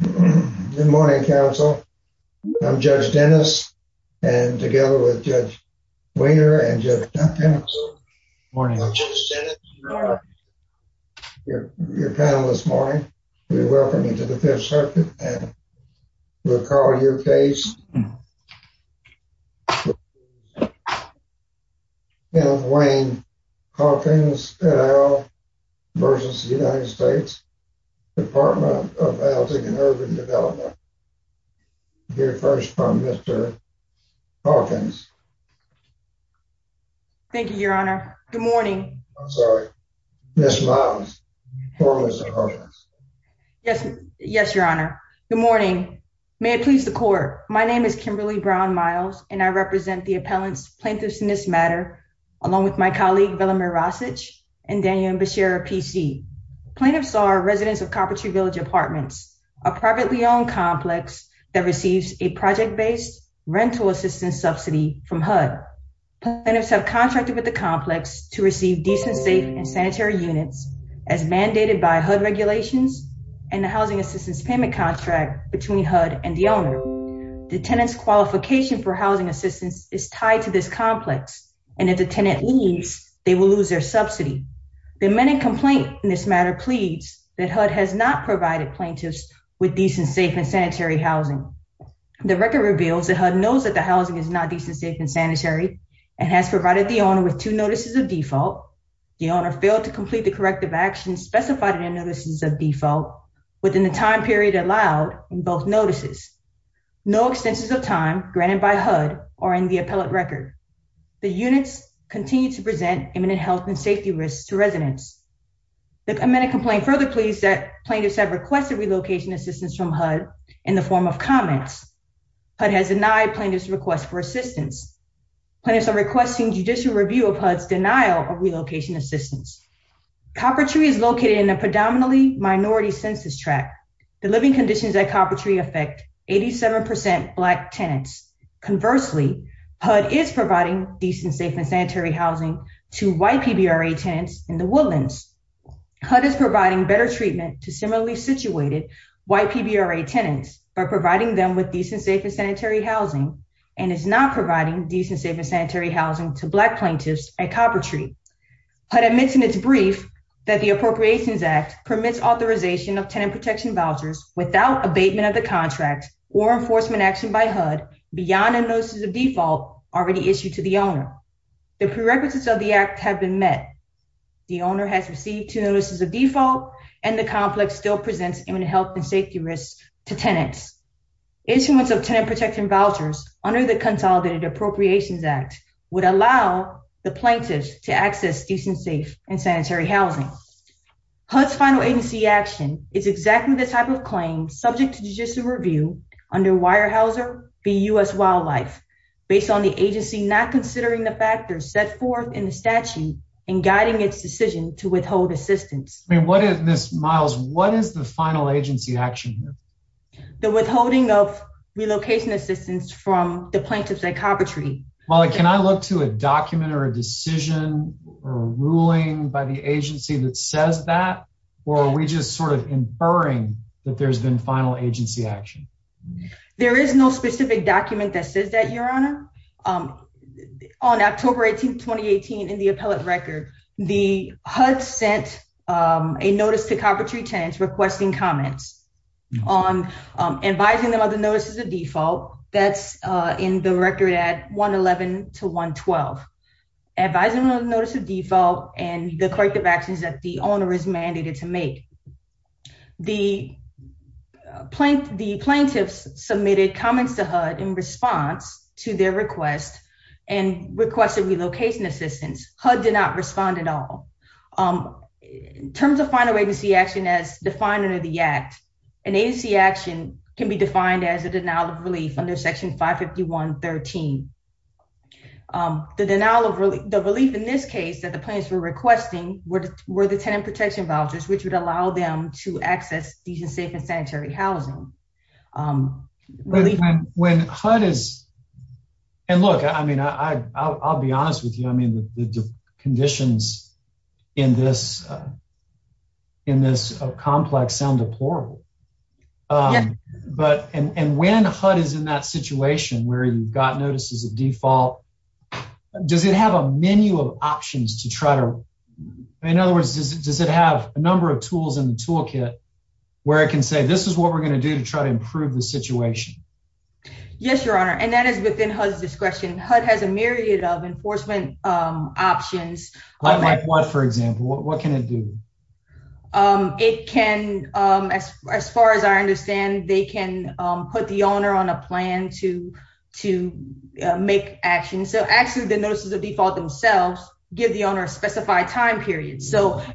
Good morning, counsel. I'm Judge Dennis and together with Judge Wiener and Judge Duncan, I'm Judge Dennis. You are your panel this morning. We welcome you to the Fifth Circuit and we'll call your case against the United States Department of Housing and Urban Development. We'll hear first from Mr. Hawkins. Thank you, Your Honor. Good morning. I'm sorry, Ms. Miles. Yes. Yes, Your Honor. Good morning. May it please the court. My name is Kimberly Brown Miles and I represent the appellants plaintiffs in this matter, along with my colleague Velimir Rasich and Daniel Bishara, PC. Plaintiffs are residents of Carpentry Village Apartments, a privately owned complex that receives a project-based rental assistance subsidy from HUD. Plaintiffs have contracted with the complex to receive decent, safe and sanitary units as mandated by HUD regulations and the housing assistance payment contract between HUD and the owner. The tenant's qualification for housing assistance is tied to this complex and if the tenant leaves, they will lose their subsidy. The amended complaint in this matter pleads that HUD has not provided plaintiffs with decent, safe and sanitary housing. The record reveals that HUD knows that the housing is not decent, safe and sanitary and has provided the owner with two notices of default. The owner failed to complete the corrective actions specified in the notices of default within the time period allowed in both notices. No extensions of time granted by HUD are in the appellate record. The units continue to present imminent health and safety risks to residents. The amended complaint further pleads that plaintiffs have requested relocation assistance from HUD in the form of comments. HUD has denied plaintiffs' request for assistance. Plaintiffs are requesting judicial review of HUD's denial of relocation assistance. Copper Tree is located in a predominantly minority census tract. The living conditions at Copper Tree affect 87% Black tenants. Conversely, HUD is providing decent, safe and sanitary housing to white PBRA tenants in the woodlands. HUD is providing better treatment to similarly situated white PBRA tenants by providing them with decent, safe and sanitary housing and is not providing decent, safe and sanitary housing to Black plaintiffs at Copper Tree. HUD admits in its brief that the Appropriations Act permits authorization of tenant protection vouchers without abatement of the contract or enforcement action by HUD beyond the notices of default already issued to the owner. The prerequisites of the Act have been met. The owner has received two notices of default and the complex still presents imminent health and safety risks to tenants. Instruments of tenant protection vouchers under the Consolidated Appropriations Act would allow the plaintiffs to access decent, safe and sanitary housing. HUD's final agency action is exactly the type of claim subject to judicial review under Weyerhaeuser v. U.S. Wildlife based on the agency not considering the factors set forth in the statute and guiding its decision to withhold assistance. Miles, what is the final agency action? The withholding of relocation assistance from the plaintiffs at Copper Tree. Molly, can I look to a document or a decision or ruling by the agency that says that or are we just sort of inferring that there's been final agency action? There is no specific document that says that, Your Honor. On October 18, 2018, in the appellate record, the HUD sent a notice to Copper Tree tenants requesting comments on advising them of the notices of default. That's in the record at 111 to 112. Advising them of the notice of default and the corrective actions that the owner is mandated to make. The plaintiffs submitted comments to HUD in response to their request and requested relocation assistance. HUD did not respond at all. In terms of final agency action as defined under the Act, an agency action can be defined as a denial of relief under Section 551.13. The relief in this case that the plaintiffs were requesting were the tenant protection vouchers, which would allow them to access decent, safe, and sanitary housing. I'll be honest with you. The conditions in this complex sound deplorable. When HUD is in that situation where you've got notices of default, does it have a menu of options to try to... In other words, does it have a number of tools in the toolkit where it can say, this is what we're going to do to try to improve the situation? Yes, Your Honor, and that is within HUD's discretion. HUD has a myriad of enforcement options. Like what, for example? What can it do? As far as I understand, they can put the owner on a plan to make actions. Actually, the notices of default themselves give the owner a specified time period.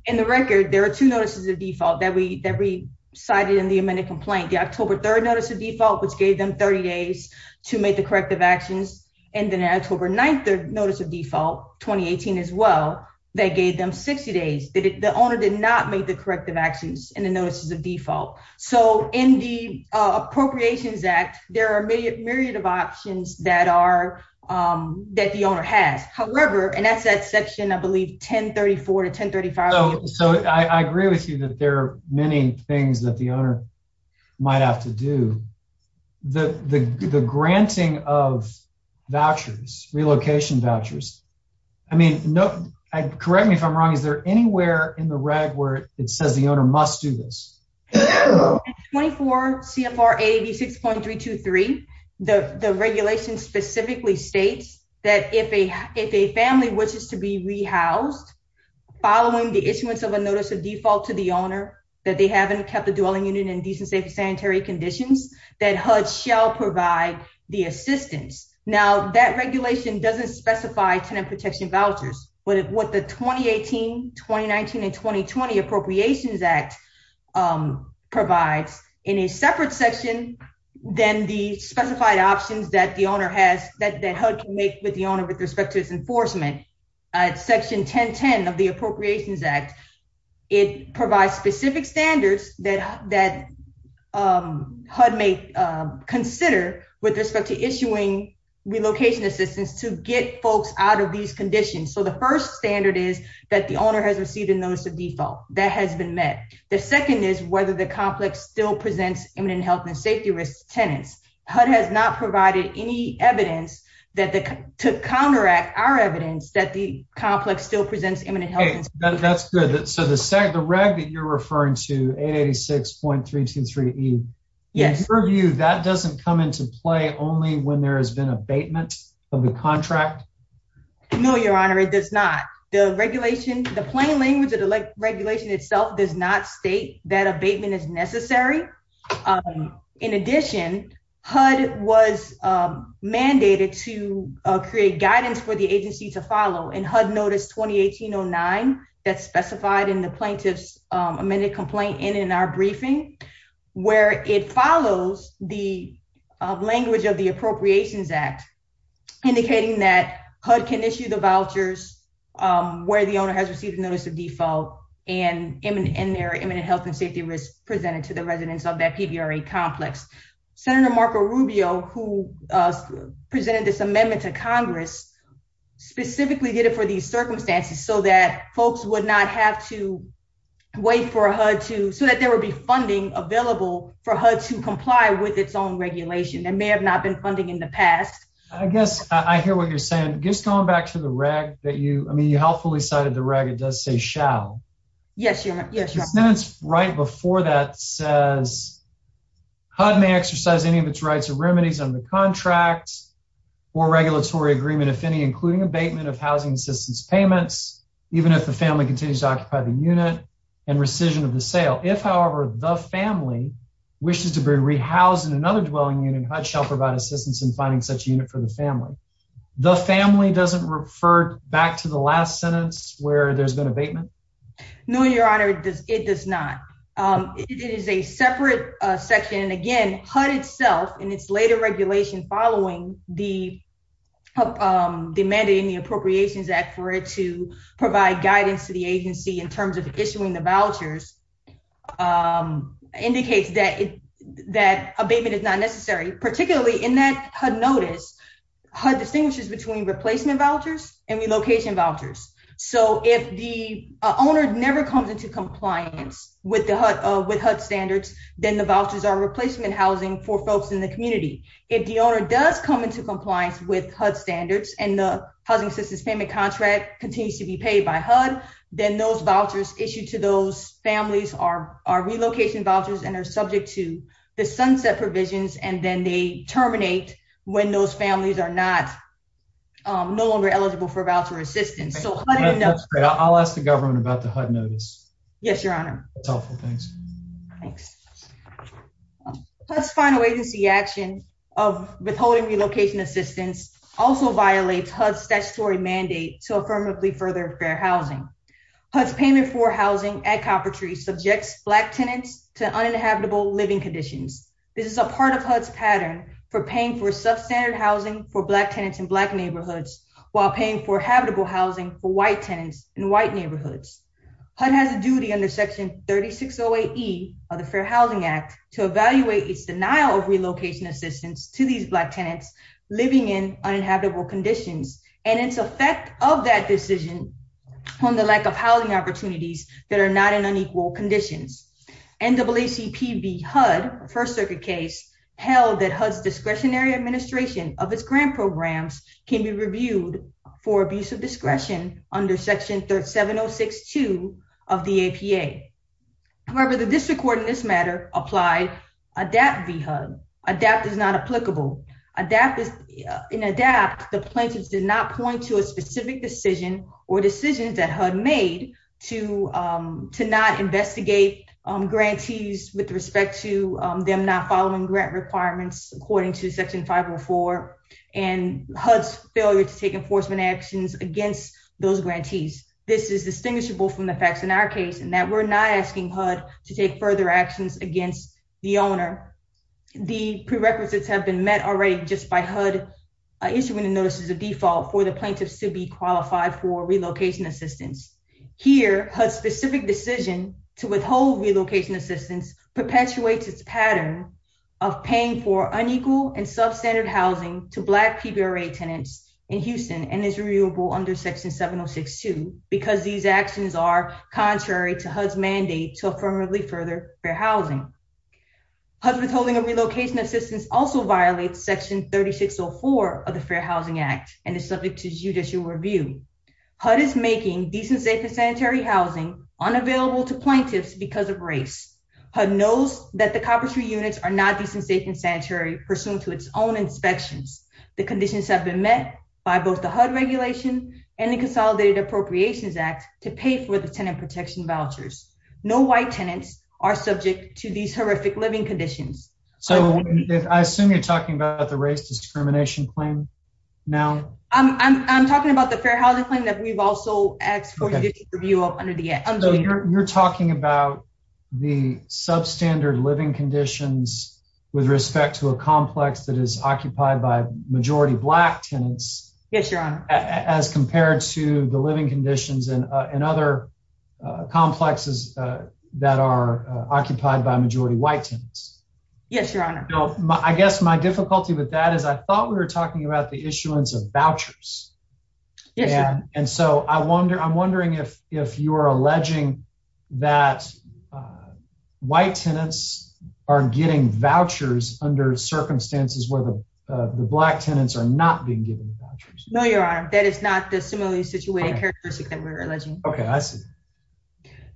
In the record, there are two notices of default that we cited in the amended complaint. The October 3rd notice of default, which gave them 30 days to make the corrective actions, and then the October 9th notice of default, 2018 as well, that gave them 60 days. The owner did not make the corrective actions in the notices of default. In the Appropriations Act, there are a myriad of options that the owner has. However, and that's that section, I believe, 1034 to 1035. I agree with you that there are many things that the owner might have to do. The granting of vouchers, relocation vouchers, I mean, correct me if I'm wrong, is there anywhere in the reg where it says the owner must do this? In 24 CFR 886.323, the regulation specifically states that if a family wishes to be rehoused, following the issuance of a notice of default to the owner that they haven't kept the dwelling unit in decent, safe, and sanitary conditions, that HUD shall provide the assistance. Now, that regulation doesn't specify tenant protection vouchers. What the 2018, 2019, and 2020 Appropriations Act provides in a separate section than the specified options that the owner has, that HUD can make with the owner with respect to its enforcement. Section 1010 of the Appropriations Act, it provides specific standards that HUD may consider with respect to issuing relocation assistance to get folks out of these conditions. So the first standard is that the owner has received a notice of default. That has been met. The second is whether the complex still presents imminent health and safety risk to tenants. HUD has not provided any evidence to counteract our evidence that the complex still presents imminent health and safety risk. That's good. So the reg that you're referring to, 886.323E, in your view, that doesn't come into play only when there has been abatement of the contract? No, Your Honor, it does not. The plain language of the regulation itself does not state that abatement is necessary. In addition, HUD was mandated to create guidance for the agency to follow. In HUD notice 2809, that's specified in the plaintiff's amended complaint and in our briefing, where it follows the language of the Appropriations Act, indicating that HUD can issue the vouchers where the owner has received notice of default, and their imminent health and safety risk presented to the residents of that PVRA complex. Senator Marco Rubio, who presented this amendment to Congress, specifically did it for these circumstances so that folks would not have to wait for HUD to, so that there would be funding available for HUD to comply with its own regulation. It may have not been funding in the past. I guess I hear what you're saying. Just going back to the reg that you, I mean, you helpfully cited the reg, it does say shall. Yes, Your Honor. Yes, Your Honor. The sentence right before that says HUD may exercise any of its rights or remedies under the contract or regulatory agreement, if any, including abatement of housing assistance payments, even if the family continues to occupy the unit and rescission of the sale. If, however, the family wishes to be rehoused in another dwelling unit, HUD shall provide assistance in finding such a unit for the family. The family doesn't refer back to the last sentence where there's been abatement? No, Your Honor, it does not. It is a separate section. Again, HUD itself, in its later regulation following the mandate in the Appropriations Act for it to provide guidance to the agency in terms of issuing the vouchers, indicates that abatement is not necessary. Particularly in that HUD notice, HUD distinguishes between replacement vouchers and relocation vouchers. So if the owner never comes into compliance with HUD standards, then the vouchers are replacement housing for folks in the community. If the owner does come into compliance with HUD standards and the housing assistance payment contract continues to be paid by HUD, then those vouchers issued to those families are relocation vouchers and are subject to the sunset provisions, and then they terminate when those families are no longer eligible for voucher assistance. I'll ask the government about the HUD notice. Yes, Your Honor. That's helpful, thanks. Thanks. HUD's final agency action of withholding relocation assistance also violates HUD's statutory mandate to affirmatively further fair housing. HUD's payment for housing at Copper Tree subjects Black tenants to uninhabitable living conditions. This is a part of HUD's pattern for paying for substandard housing for Black tenants in Black neighborhoods, while paying for habitable housing for White tenants in White neighborhoods. HUD has a duty under Section 3608E of the Fair Housing Act to evaluate its denial of relocation assistance to these Black tenants living in uninhabitable conditions, and its effect of that decision on the lack of housing opportunities that are not in unequal conditions. NAACP v. HUD First Circuit case held that HUD's discretionary administration of its grant programs can be reviewed for abuse of discretion under Section 7062 of the APA. However, the district court in this matter applied ADAPT v. HUD. This is a case where HUD is disillusioned with its grantees with respect to them not following grant requirements according to Section 504, and HUD's failure to take enforcement actions against those grantees. This is distinguishable from the facts in our case in that we're not asking HUD to take further actions against the owner. The prerequisites have been met already just by HUD issuing the notice as a default for the plaintiffs to be qualified for relocation assistance. Here, HUD's specific decision to withhold relocation assistance perpetuates its pattern of paying for unequal and substandard housing to Black PBRA tenants in Houston and is reviewable under Section 7062 because these actions are contrary to HUD's mandate to affirmatively further fair housing. HUD's withholding of relocation assistance also violates Section 3604 of the Fair Housing Act and is subject to judicial review. HUD is making decent, safe, and sanitary housing unavailable to plaintiffs because of race. HUD knows that the coppice units are not decent, safe, and sanitary pursuant to its own inspections. The conditions have been met by both the HUD regulation and the Consolidated Appropriations Act to pay for the tenant protection vouchers. No White tenants are subject to these horrific living conditions. So, I assume you're talking about the race discrimination claim now? I'm talking about the fair housing claim that we've also asked for judicial review of under the Act. So, you're talking about the substandard living conditions with respect to a complex that is occupied by majority Black tenants? Yes, Your Honor. As compared to the living conditions in other complexes that are occupied by majority White tenants? Yes, Your Honor. I guess my difficulty with that is I thought we were talking about the issuance of vouchers. Yes, Your Honor. And so, I'm wondering if you're alleging that White tenants are getting vouchers under circumstances where the Black tenants are not being given vouchers? No, Your Honor. That is not the similarly situated characteristic that we're alleging. Okay, I see.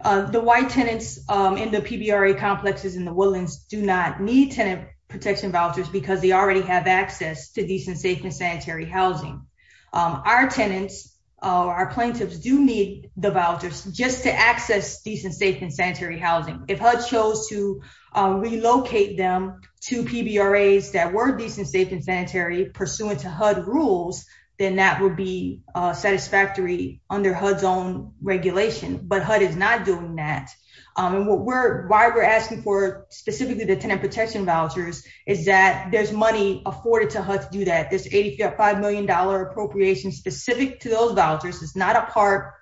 The White tenants in the PBRA complexes in the Woodlands do not need tenant protection vouchers because they already have access to decent, safe, and sanitary housing. Our tenants, our plaintiffs, do need the vouchers just to access decent, safe, and sanitary housing. If HUD chose to relocate them to PBRAs that were decent, safe, and sanitary pursuant to HUD rules, then that would be satisfactory under HUD's own regulation. But HUD is not doing that. Why we're asking for specifically the tenant protection vouchers is that there's money afforded to HUD to do that. This $85 million appropriation specific to those vouchers is not a part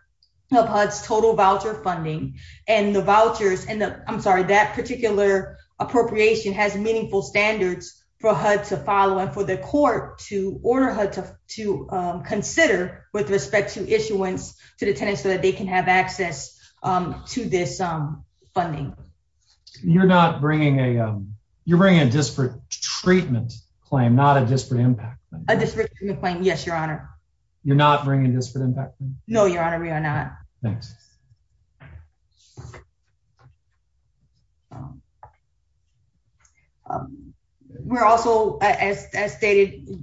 of HUD's total voucher funding. And the vouchers, I'm sorry, that particular appropriation has meaningful standards for HUD to follow and for the court to order HUD to consider with respect to issuance to the tenants so that they can have access to this funding. You're bringing a disparate treatment claim, not a disparate impact claim? A disparate treatment claim, yes, Your Honor. You're not bringing a disparate impact claim? No, Your Honor, we are not. Thanks. We're also, as stated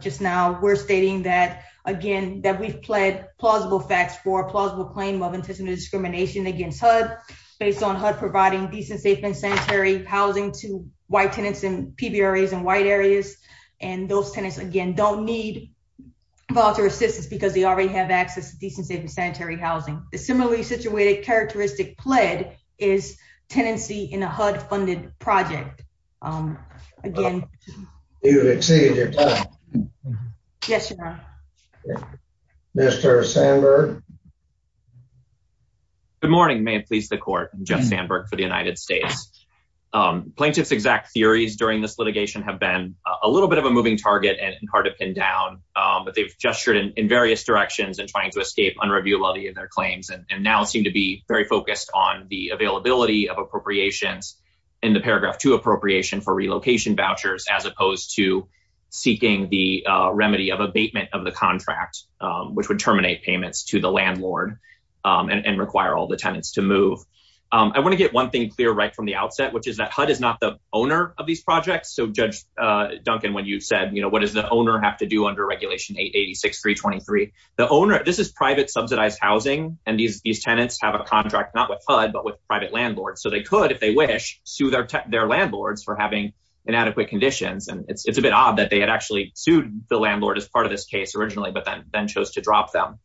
just now, we're stating that, again, that we've pled plausible facts for a plausible claim of intentional discrimination against HUD based on HUD providing decent, safe, and sanitary housing to white tenants in PBRAs and white areas. And those tenants, again, don't need voucher assistance because they already have access to decent, safe, and sanitary housing. The similarly situated characteristic pled is tenancy in a HUD funded project. Again. You've exceeded your time. Yes, Your Honor. Mr. Sandberg? Good morning. May it please the court. I'm Jeff Sandberg for the United States. Plaintiff's exact theories during this litigation have been a little bit of a moving target and hard to pin down, but they've gestured in various directions and trying to escape unreviewability of their claims and now seem to be very focused on the availability of appropriations in the paragraph to appropriation for relocation vouchers, as opposed to seeking the remedy of abatement of the contract, which would terminate payments to the landlord and require all the tenants to move. I want to get one thing clear right from the outset, which is that HUD is not the owner of these projects. So, Judge Duncan, when you said, you know, what does the owner have to do under regulation 886-323? The owner, this is private subsidized housing, and these tenants have a contract, not with HUD, but with private landlords. So they could, if they wish, sue their landlords for having inadequate conditions. And it's a bit odd that they had actually sued the landlord as part of this case originally, but then chose to drop them.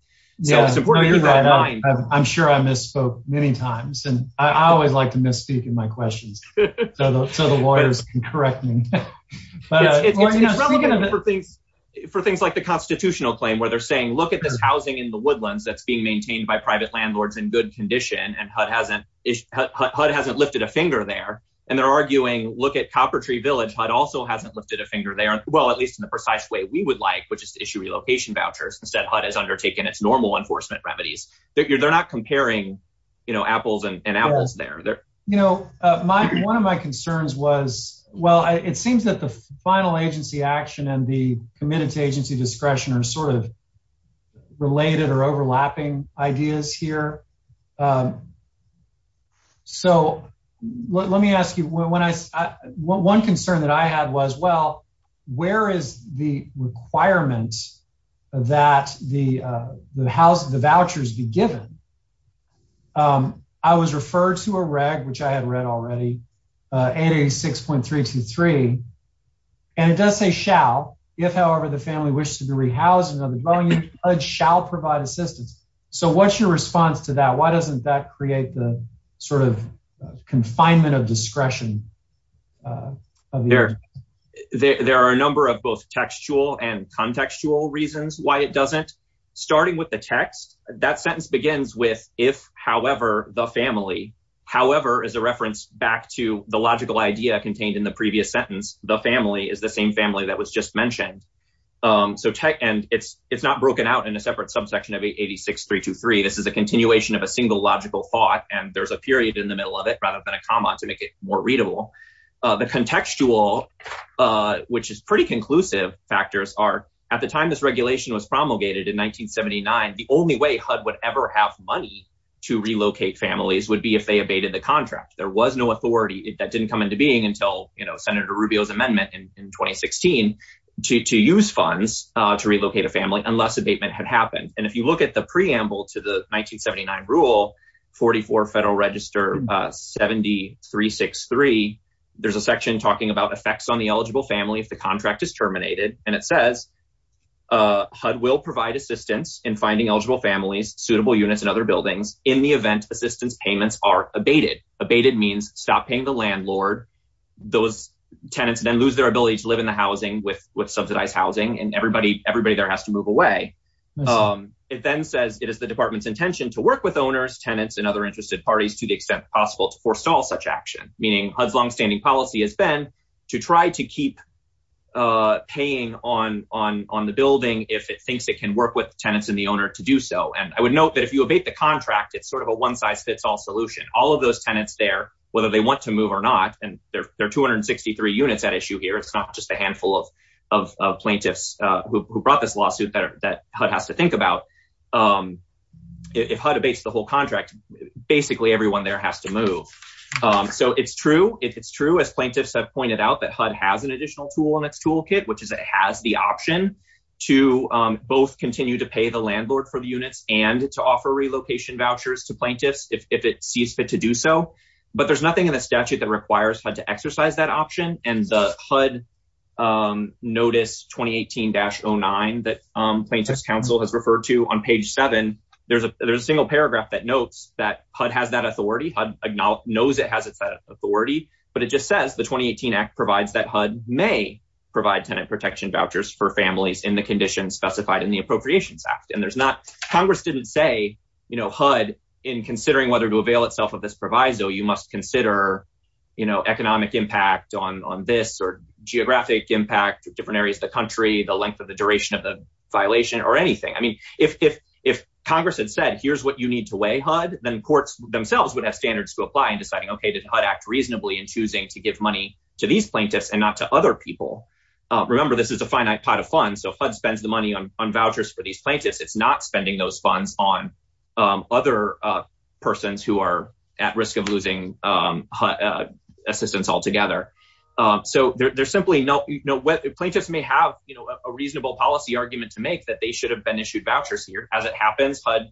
I'm sure I misspoke many times, and I always like to misspeak in my questions so the lawyers can correct me. For things like the constitutional claim where they're saying, look at this housing in the woodlands that's being maintained by private landlords in good condition, and HUD hasn't lifted a finger there. And they're arguing, look at Copper Tree Village. HUD also hasn't lifted a finger there. Well, at least in the precise way we would like, which is to issue relocation vouchers. Instead, HUD has undertaken its normal enforcement remedies. They're not comparing apples and apples there. One of my concerns was, well, it seems that the final agency action and the committed to agency discretion are sort of related or overlapping ideas here. So let me ask you, one concern that I had was, well, where is the requirement that the vouchers be given? I was referred to a reg, which I had read already, 886.323, and it does say shall. If, however, the family wishes to be rehoused in another dwelling, HUD shall provide assistance. So what's your response to that? Why doesn't that create the sort of confinement of discretion? There are a number of both textual and contextual reasons why it doesn't. Starting with the text, that sentence begins with if, however, the family, however, is a reference back to the logical idea contained in the previous sentence. The family is the same family that was just mentioned. And it's not broken out in a separate subsection of 886.323. This is a continuation of a single logical thought, and there's a period in the middle of it rather than a comma to make it more readable. The contextual, which is pretty conclusive, factors are at the time this regulation was promulgated in 1979, the only way HUD would ever have money to relocate families would be if they abated the contract. There was no authority. That didn't come into being until Senator Rubio's amendment in 2016 to use funds to relocate a family unless abatement had happened. And if you look at the preamble to the 1979 rule, 44 Federal Register 7363, there's a section talking about effects on the eligible family if the contract is terminated. And it says HUD will provide assistance in finding eligible families, suitable units and other buildings in the event assistance payments are abated. Abated means stop paying the landlord. Those tenants then lose their ability to live in the housing with subsidized housing and everybody there has to move away. It then says it is the department's intention to work with owners, tenants and other interested parties to the extent possible to forestall such action, meaning HUD's longstanding policy has been to try to keep paying on the building if it thinks it can work with tenants and the owner to do so. And I would note that if you abate the contract, it's sort of a one size fits all solution. All of those tenants there, whether they want to move or not, and there are 263 units at issue here. It's not just a handful of plaintiffs who brought this lawsuit that HUD has to think about. If HUD abates the whole contract, basically everyone there has to move. So it's true if it's true, as plaintiffs have pointed out, that HUD has an additional tool in its toolkit, which is it has the option to both continue to pay the landlord for the units and to offer relocation vouchers to plaintiffs if it sees fit to do so. But there's nothing in the statute that requires HUD to exercise that option. And the HUD Notice 2018-09 that Plaintiffs' Council has referred to on page seven, there's a single paragraph that notes that HUD has that authority. HUD knows it has its authority. But it just says the 2018 Act provides that HUD may provide tenant protection vouchers for families in the conditions specified in the Appropriations Act. Congress didn't say, HUD, in considering whether to avail itself of this proviso, you must consider economic impact on this or geographic impact, different areas of the country, the length of the duration of the violation or anything. I mean, if Congress had said, here's what you need to weigh, HUD, then courts themselves would have standards to apply in deciding, OK, did HUD act reasonably in choosing to give money to these plaintiffs and not to other people? Remember, this is a finite pot of funds. So HUD spends the money on vouchers for these plaintiffs. It's not spending those funds on other persons who are at risk of losing assistance altogether. So there's simply no way. Plaintiffs may have a reasonable policy argument to make that they should have been issued vouchers here. As it happens, HUD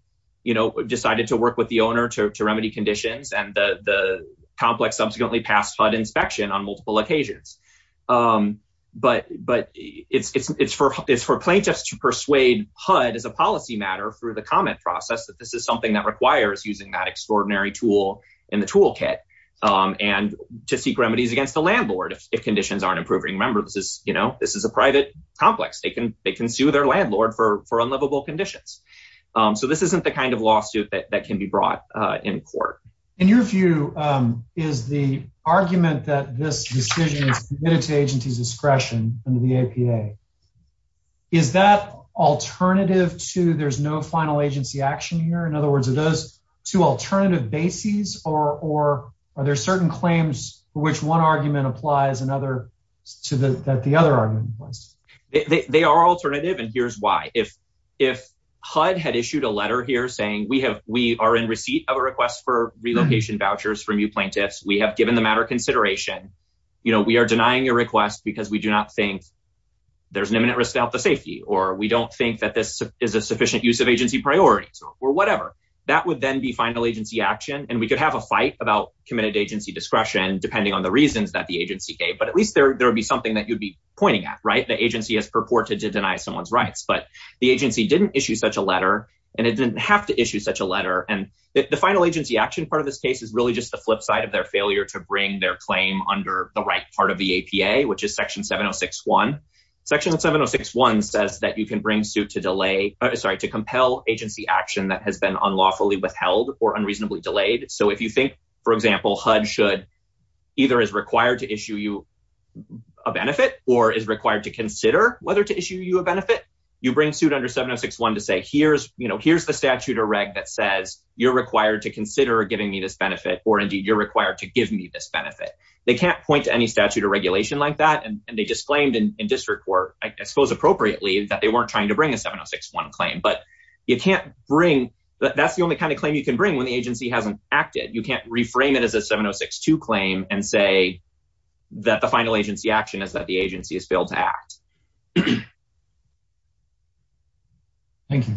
decided to work with the owner to remedy conditions and the complex subsequently passed HUD inspection on multiple occasions. But it's for plaintiffs to persuade HUD as a policy matter through the comment process that this is something that requires using that extraordinary tool in the toolkit and to seek remedies against the landlord if conditions aren't improving. Remember, this is a private complex. They can sue their landlord for unlivable conditions. So this isn't the kind of lawsuit that can be brought in court. In your view, is the argument that this decision is committed to agency's discretion under the APA, is that alternative to there's no final agency action here? In other words, are those two alternative bases or are there certain claims for which one argument applies to the other argument? They are alternative and here's why. If HUD had issued a letter here saying we are in receipt of a request for relocation vouchers from you plaintiffs. We have given the matter consideration. We are denying your request because we do not think there's an imminent risk to health and safety. Or we don't think that this is a sufficient use of agency priorities or whatever. That would then be final agency action and we could have a fight about committed agency discretion depending on the reasons that the agency gave. But at least there would be something that you'd be pointing at, right? The agency has purported to deny someone's rights. But the agency didn't issue such a letter and it didn't have to issue such a letter. And the final agency action part of this case is really just the flip side of their failure to bring their claim under the right part of the APA, which is Section 706.1. Section 706.1 says that you can bring suit to delay, sorry, to compel agency action that has been unlawfully withheld or unreasonably delayed. So if you think, for example, HUD should either is required to issue you a benefit or is required to consider whether to issue you a benefit, you bring suit under 706.1 to say, here's the statute or reg that says you're required to consider giving me this benefit or indeed you're required to give me this benefit. They can't point to any statute or regulation like that. And they disclaimed in district court, I suppose appropriately, that they weren't trying to bring a 706.1 claim. But you can't bring, that's the only kind of claim you can bring when the agency hasn't acted. You can't reframe it as a 706.2 claim and say that the final agency action is that the agency has failed to act. Thank you.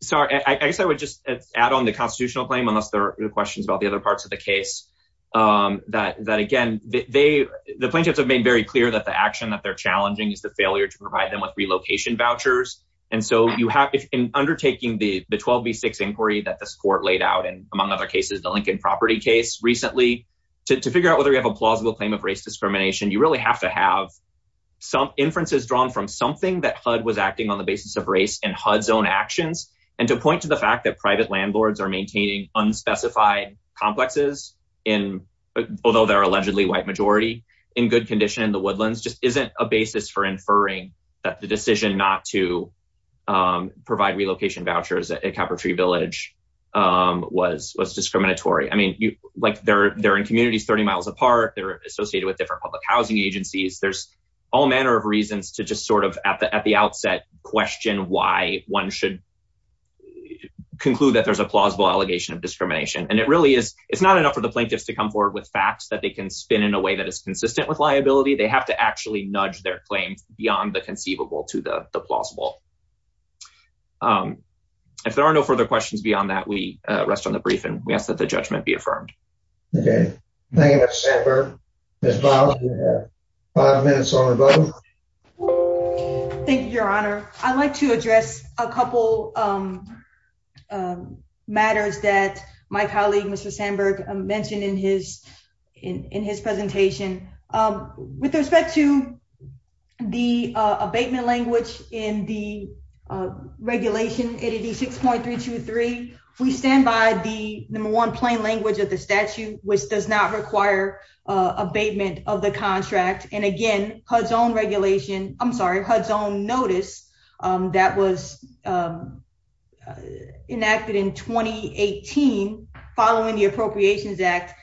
Sorry, I guess I would just add on the constitutional claim, unless there are questions about the other parts of the case. That again, the plaintiffs have made very clear that the action that they're challenging is the failure to provide them with relocation vouchers. And so you have in undertaking the 12 v 6 inquiry that this court laid out and among other cases, the Lincoln property case recently to figure out whether you have a plausible claim of race discrimination, you really have to have some inferences drawn from something that HUD was acting on the basis of race and HUD's own actions. And to point to the fact that private landlords are maintaining unspecified complexes in, although they're allegedly white majority, in good condition in the woodlands just isn't a basis for inferring that the decision not to provide relocation vouchers at Calvertree Village was discriminatory. I mean, like they're in communities 30 miles apart. They're associated with different public housing agencies. There's all manner of reasons to just sort of at the outset question why one should conclude that there's a plausible allegation of discrimination. And it really is. It's not enough for the plaintiffs to come forward with facts that they can spin in a way that is consistent with liability. They have to actually nudge their claims beyond the conceivable to the plausible. If there are no further questions beyond that, we rest on the brief and we ask that the judgment be affirmed. Okay. Thank you. Five minutes. Thank you, Your Honor. I'd like to address a couple matters that my colleague Mr Sandberg mentioned in his in his presentation. With respect to the abatement language in the regulation 86.323, we stand by the number one plain language of the statute, which does not require abatement of the contract. And again, HUD's own regulation, I'm sorry, HUD's own notice that was enacted in 2018 following the Appropriations Act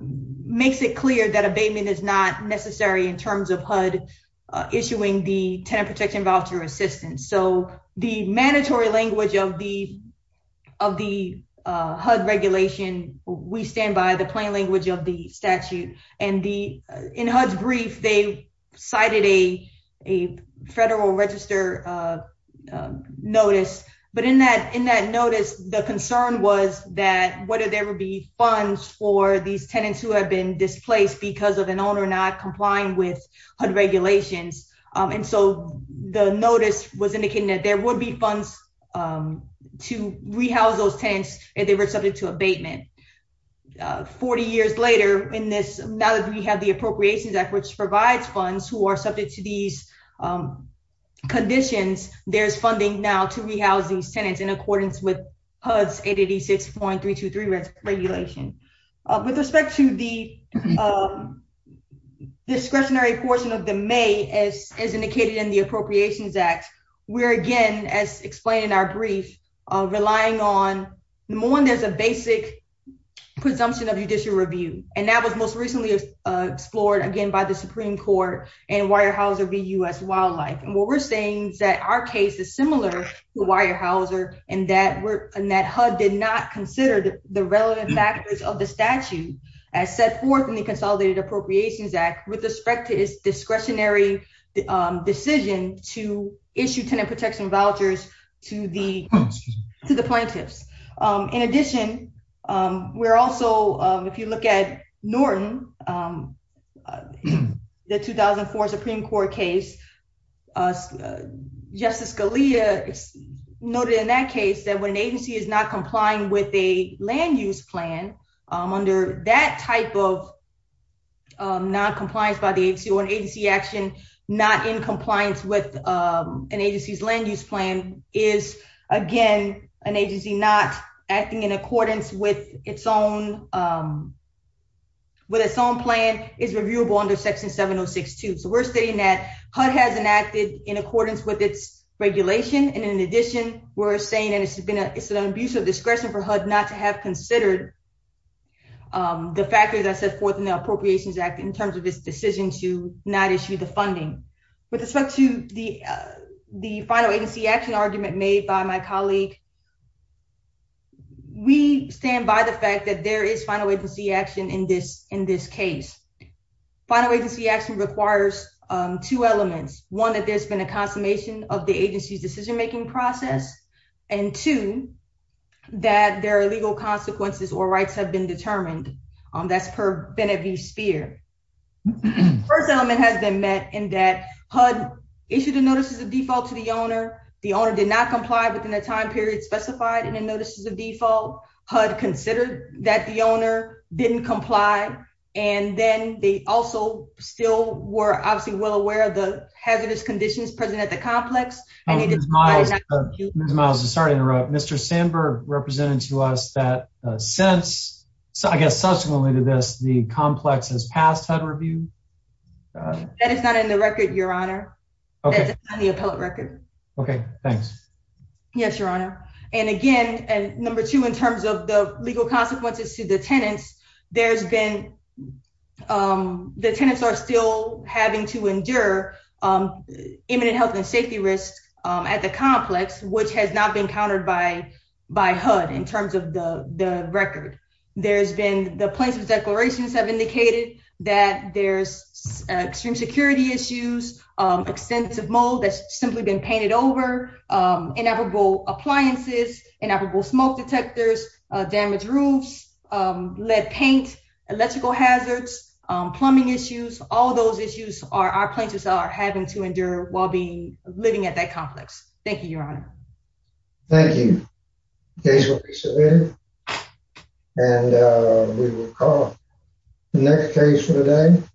makes it clear that abatement is not necessary in terms of HUD issuing the tenant protection voucher assistance. So the mandatory language of the HUD regulation, we stand by the plain language of the statute. And in HUD's brief, they cited a federal register notice. But in that notice, the concern was that whether there would be funds for these tenants who have been displaced because of an owner not complying with HUD regulations. And so the notice was indicating that there would be funds to rehouse those tenants if they were subject to abatement. 40 years later in this, now that we have the Appropriations Act, which provides funds who are subject to these conditions, there's funding now to rehouse these tenants in accordance with HUD's 886.323 regulation. With respect to the discretionary portion of the May, as indicated in the Appropriations Act, we're again, as explained in our brief, relying on more than just a basic presumption of judicial review. And that was most recently explored again by the Supreme Court and Weyerhaeuser v. U.S. Wildlife. And what we're saying is that our case is similar to Weyerhaeuser and that HUD did not consider the relevant factors of the statute as set forth in the Consolidated Appropriations Act with respect to its discretionary decision to issue tenant protection vouchers to the plaintiffs. In addition, we're also, if you look at Norton, the 2004 Supreme Court case, Justice Scalia noted in that case that when an agency is not complying with a land use plan, under that type of noncompliance by the agency, or an agency action not in compliance with an agency's land use plan, is, again, an agency not acting in accordance with its own plan, is reviewable under Section 706.2. So we're stating that HUD has enacted in accordance with its regulation. And in addition, we're saying that it's an abuse of discretion for HUD not to have considered the factors as set forth in the Appropriations Act in terms of its decision to not issue the funding. With respect to the final agency action argument made by my colleague, we stand by the fact that there is final agency action in this case. Final agency action requires two elements. One, that there's been a consummation of the agency's decision-making process. And two, that there are legal consequences or rights have been determined. That's per Bennett v. Speer. The first element has been met in that HUD issued a Notice of Default to the owner. The owner did not comply within the time period specified in the Notice of Default. HUD considered that the owner didn't comply. And then they also still were obviously well aware of the hazardous conditions present at the complex. Ms. Miles, sorry to interrupt. Mr. Sandberg represented to us that since, I guess subsequently to this, the complex has passed HUD review? That is not in the record, Your Honor. That's not in the appellate record. Okay, thanks. Yes, Your Honor. And again, number two, in terms of the legal consequences to the tenants, the tenants are still having to endure imminent health and safety risks at the complex, which has not been countered by HUD in terms of the record. There's been the plaintiff's declarations have indicated that there's extreme security issues, extensive mold that's simply been painted over, inevitable appliances, inevitable smoke detectors, damaged roofs, lead paint, electrical hazards, plumbing issues. All those issues are our plaintiffs are having to endure while being living at that complex. Thank you, Your Honor. Thank you. Case will be submitted. And we will call the next case for the day.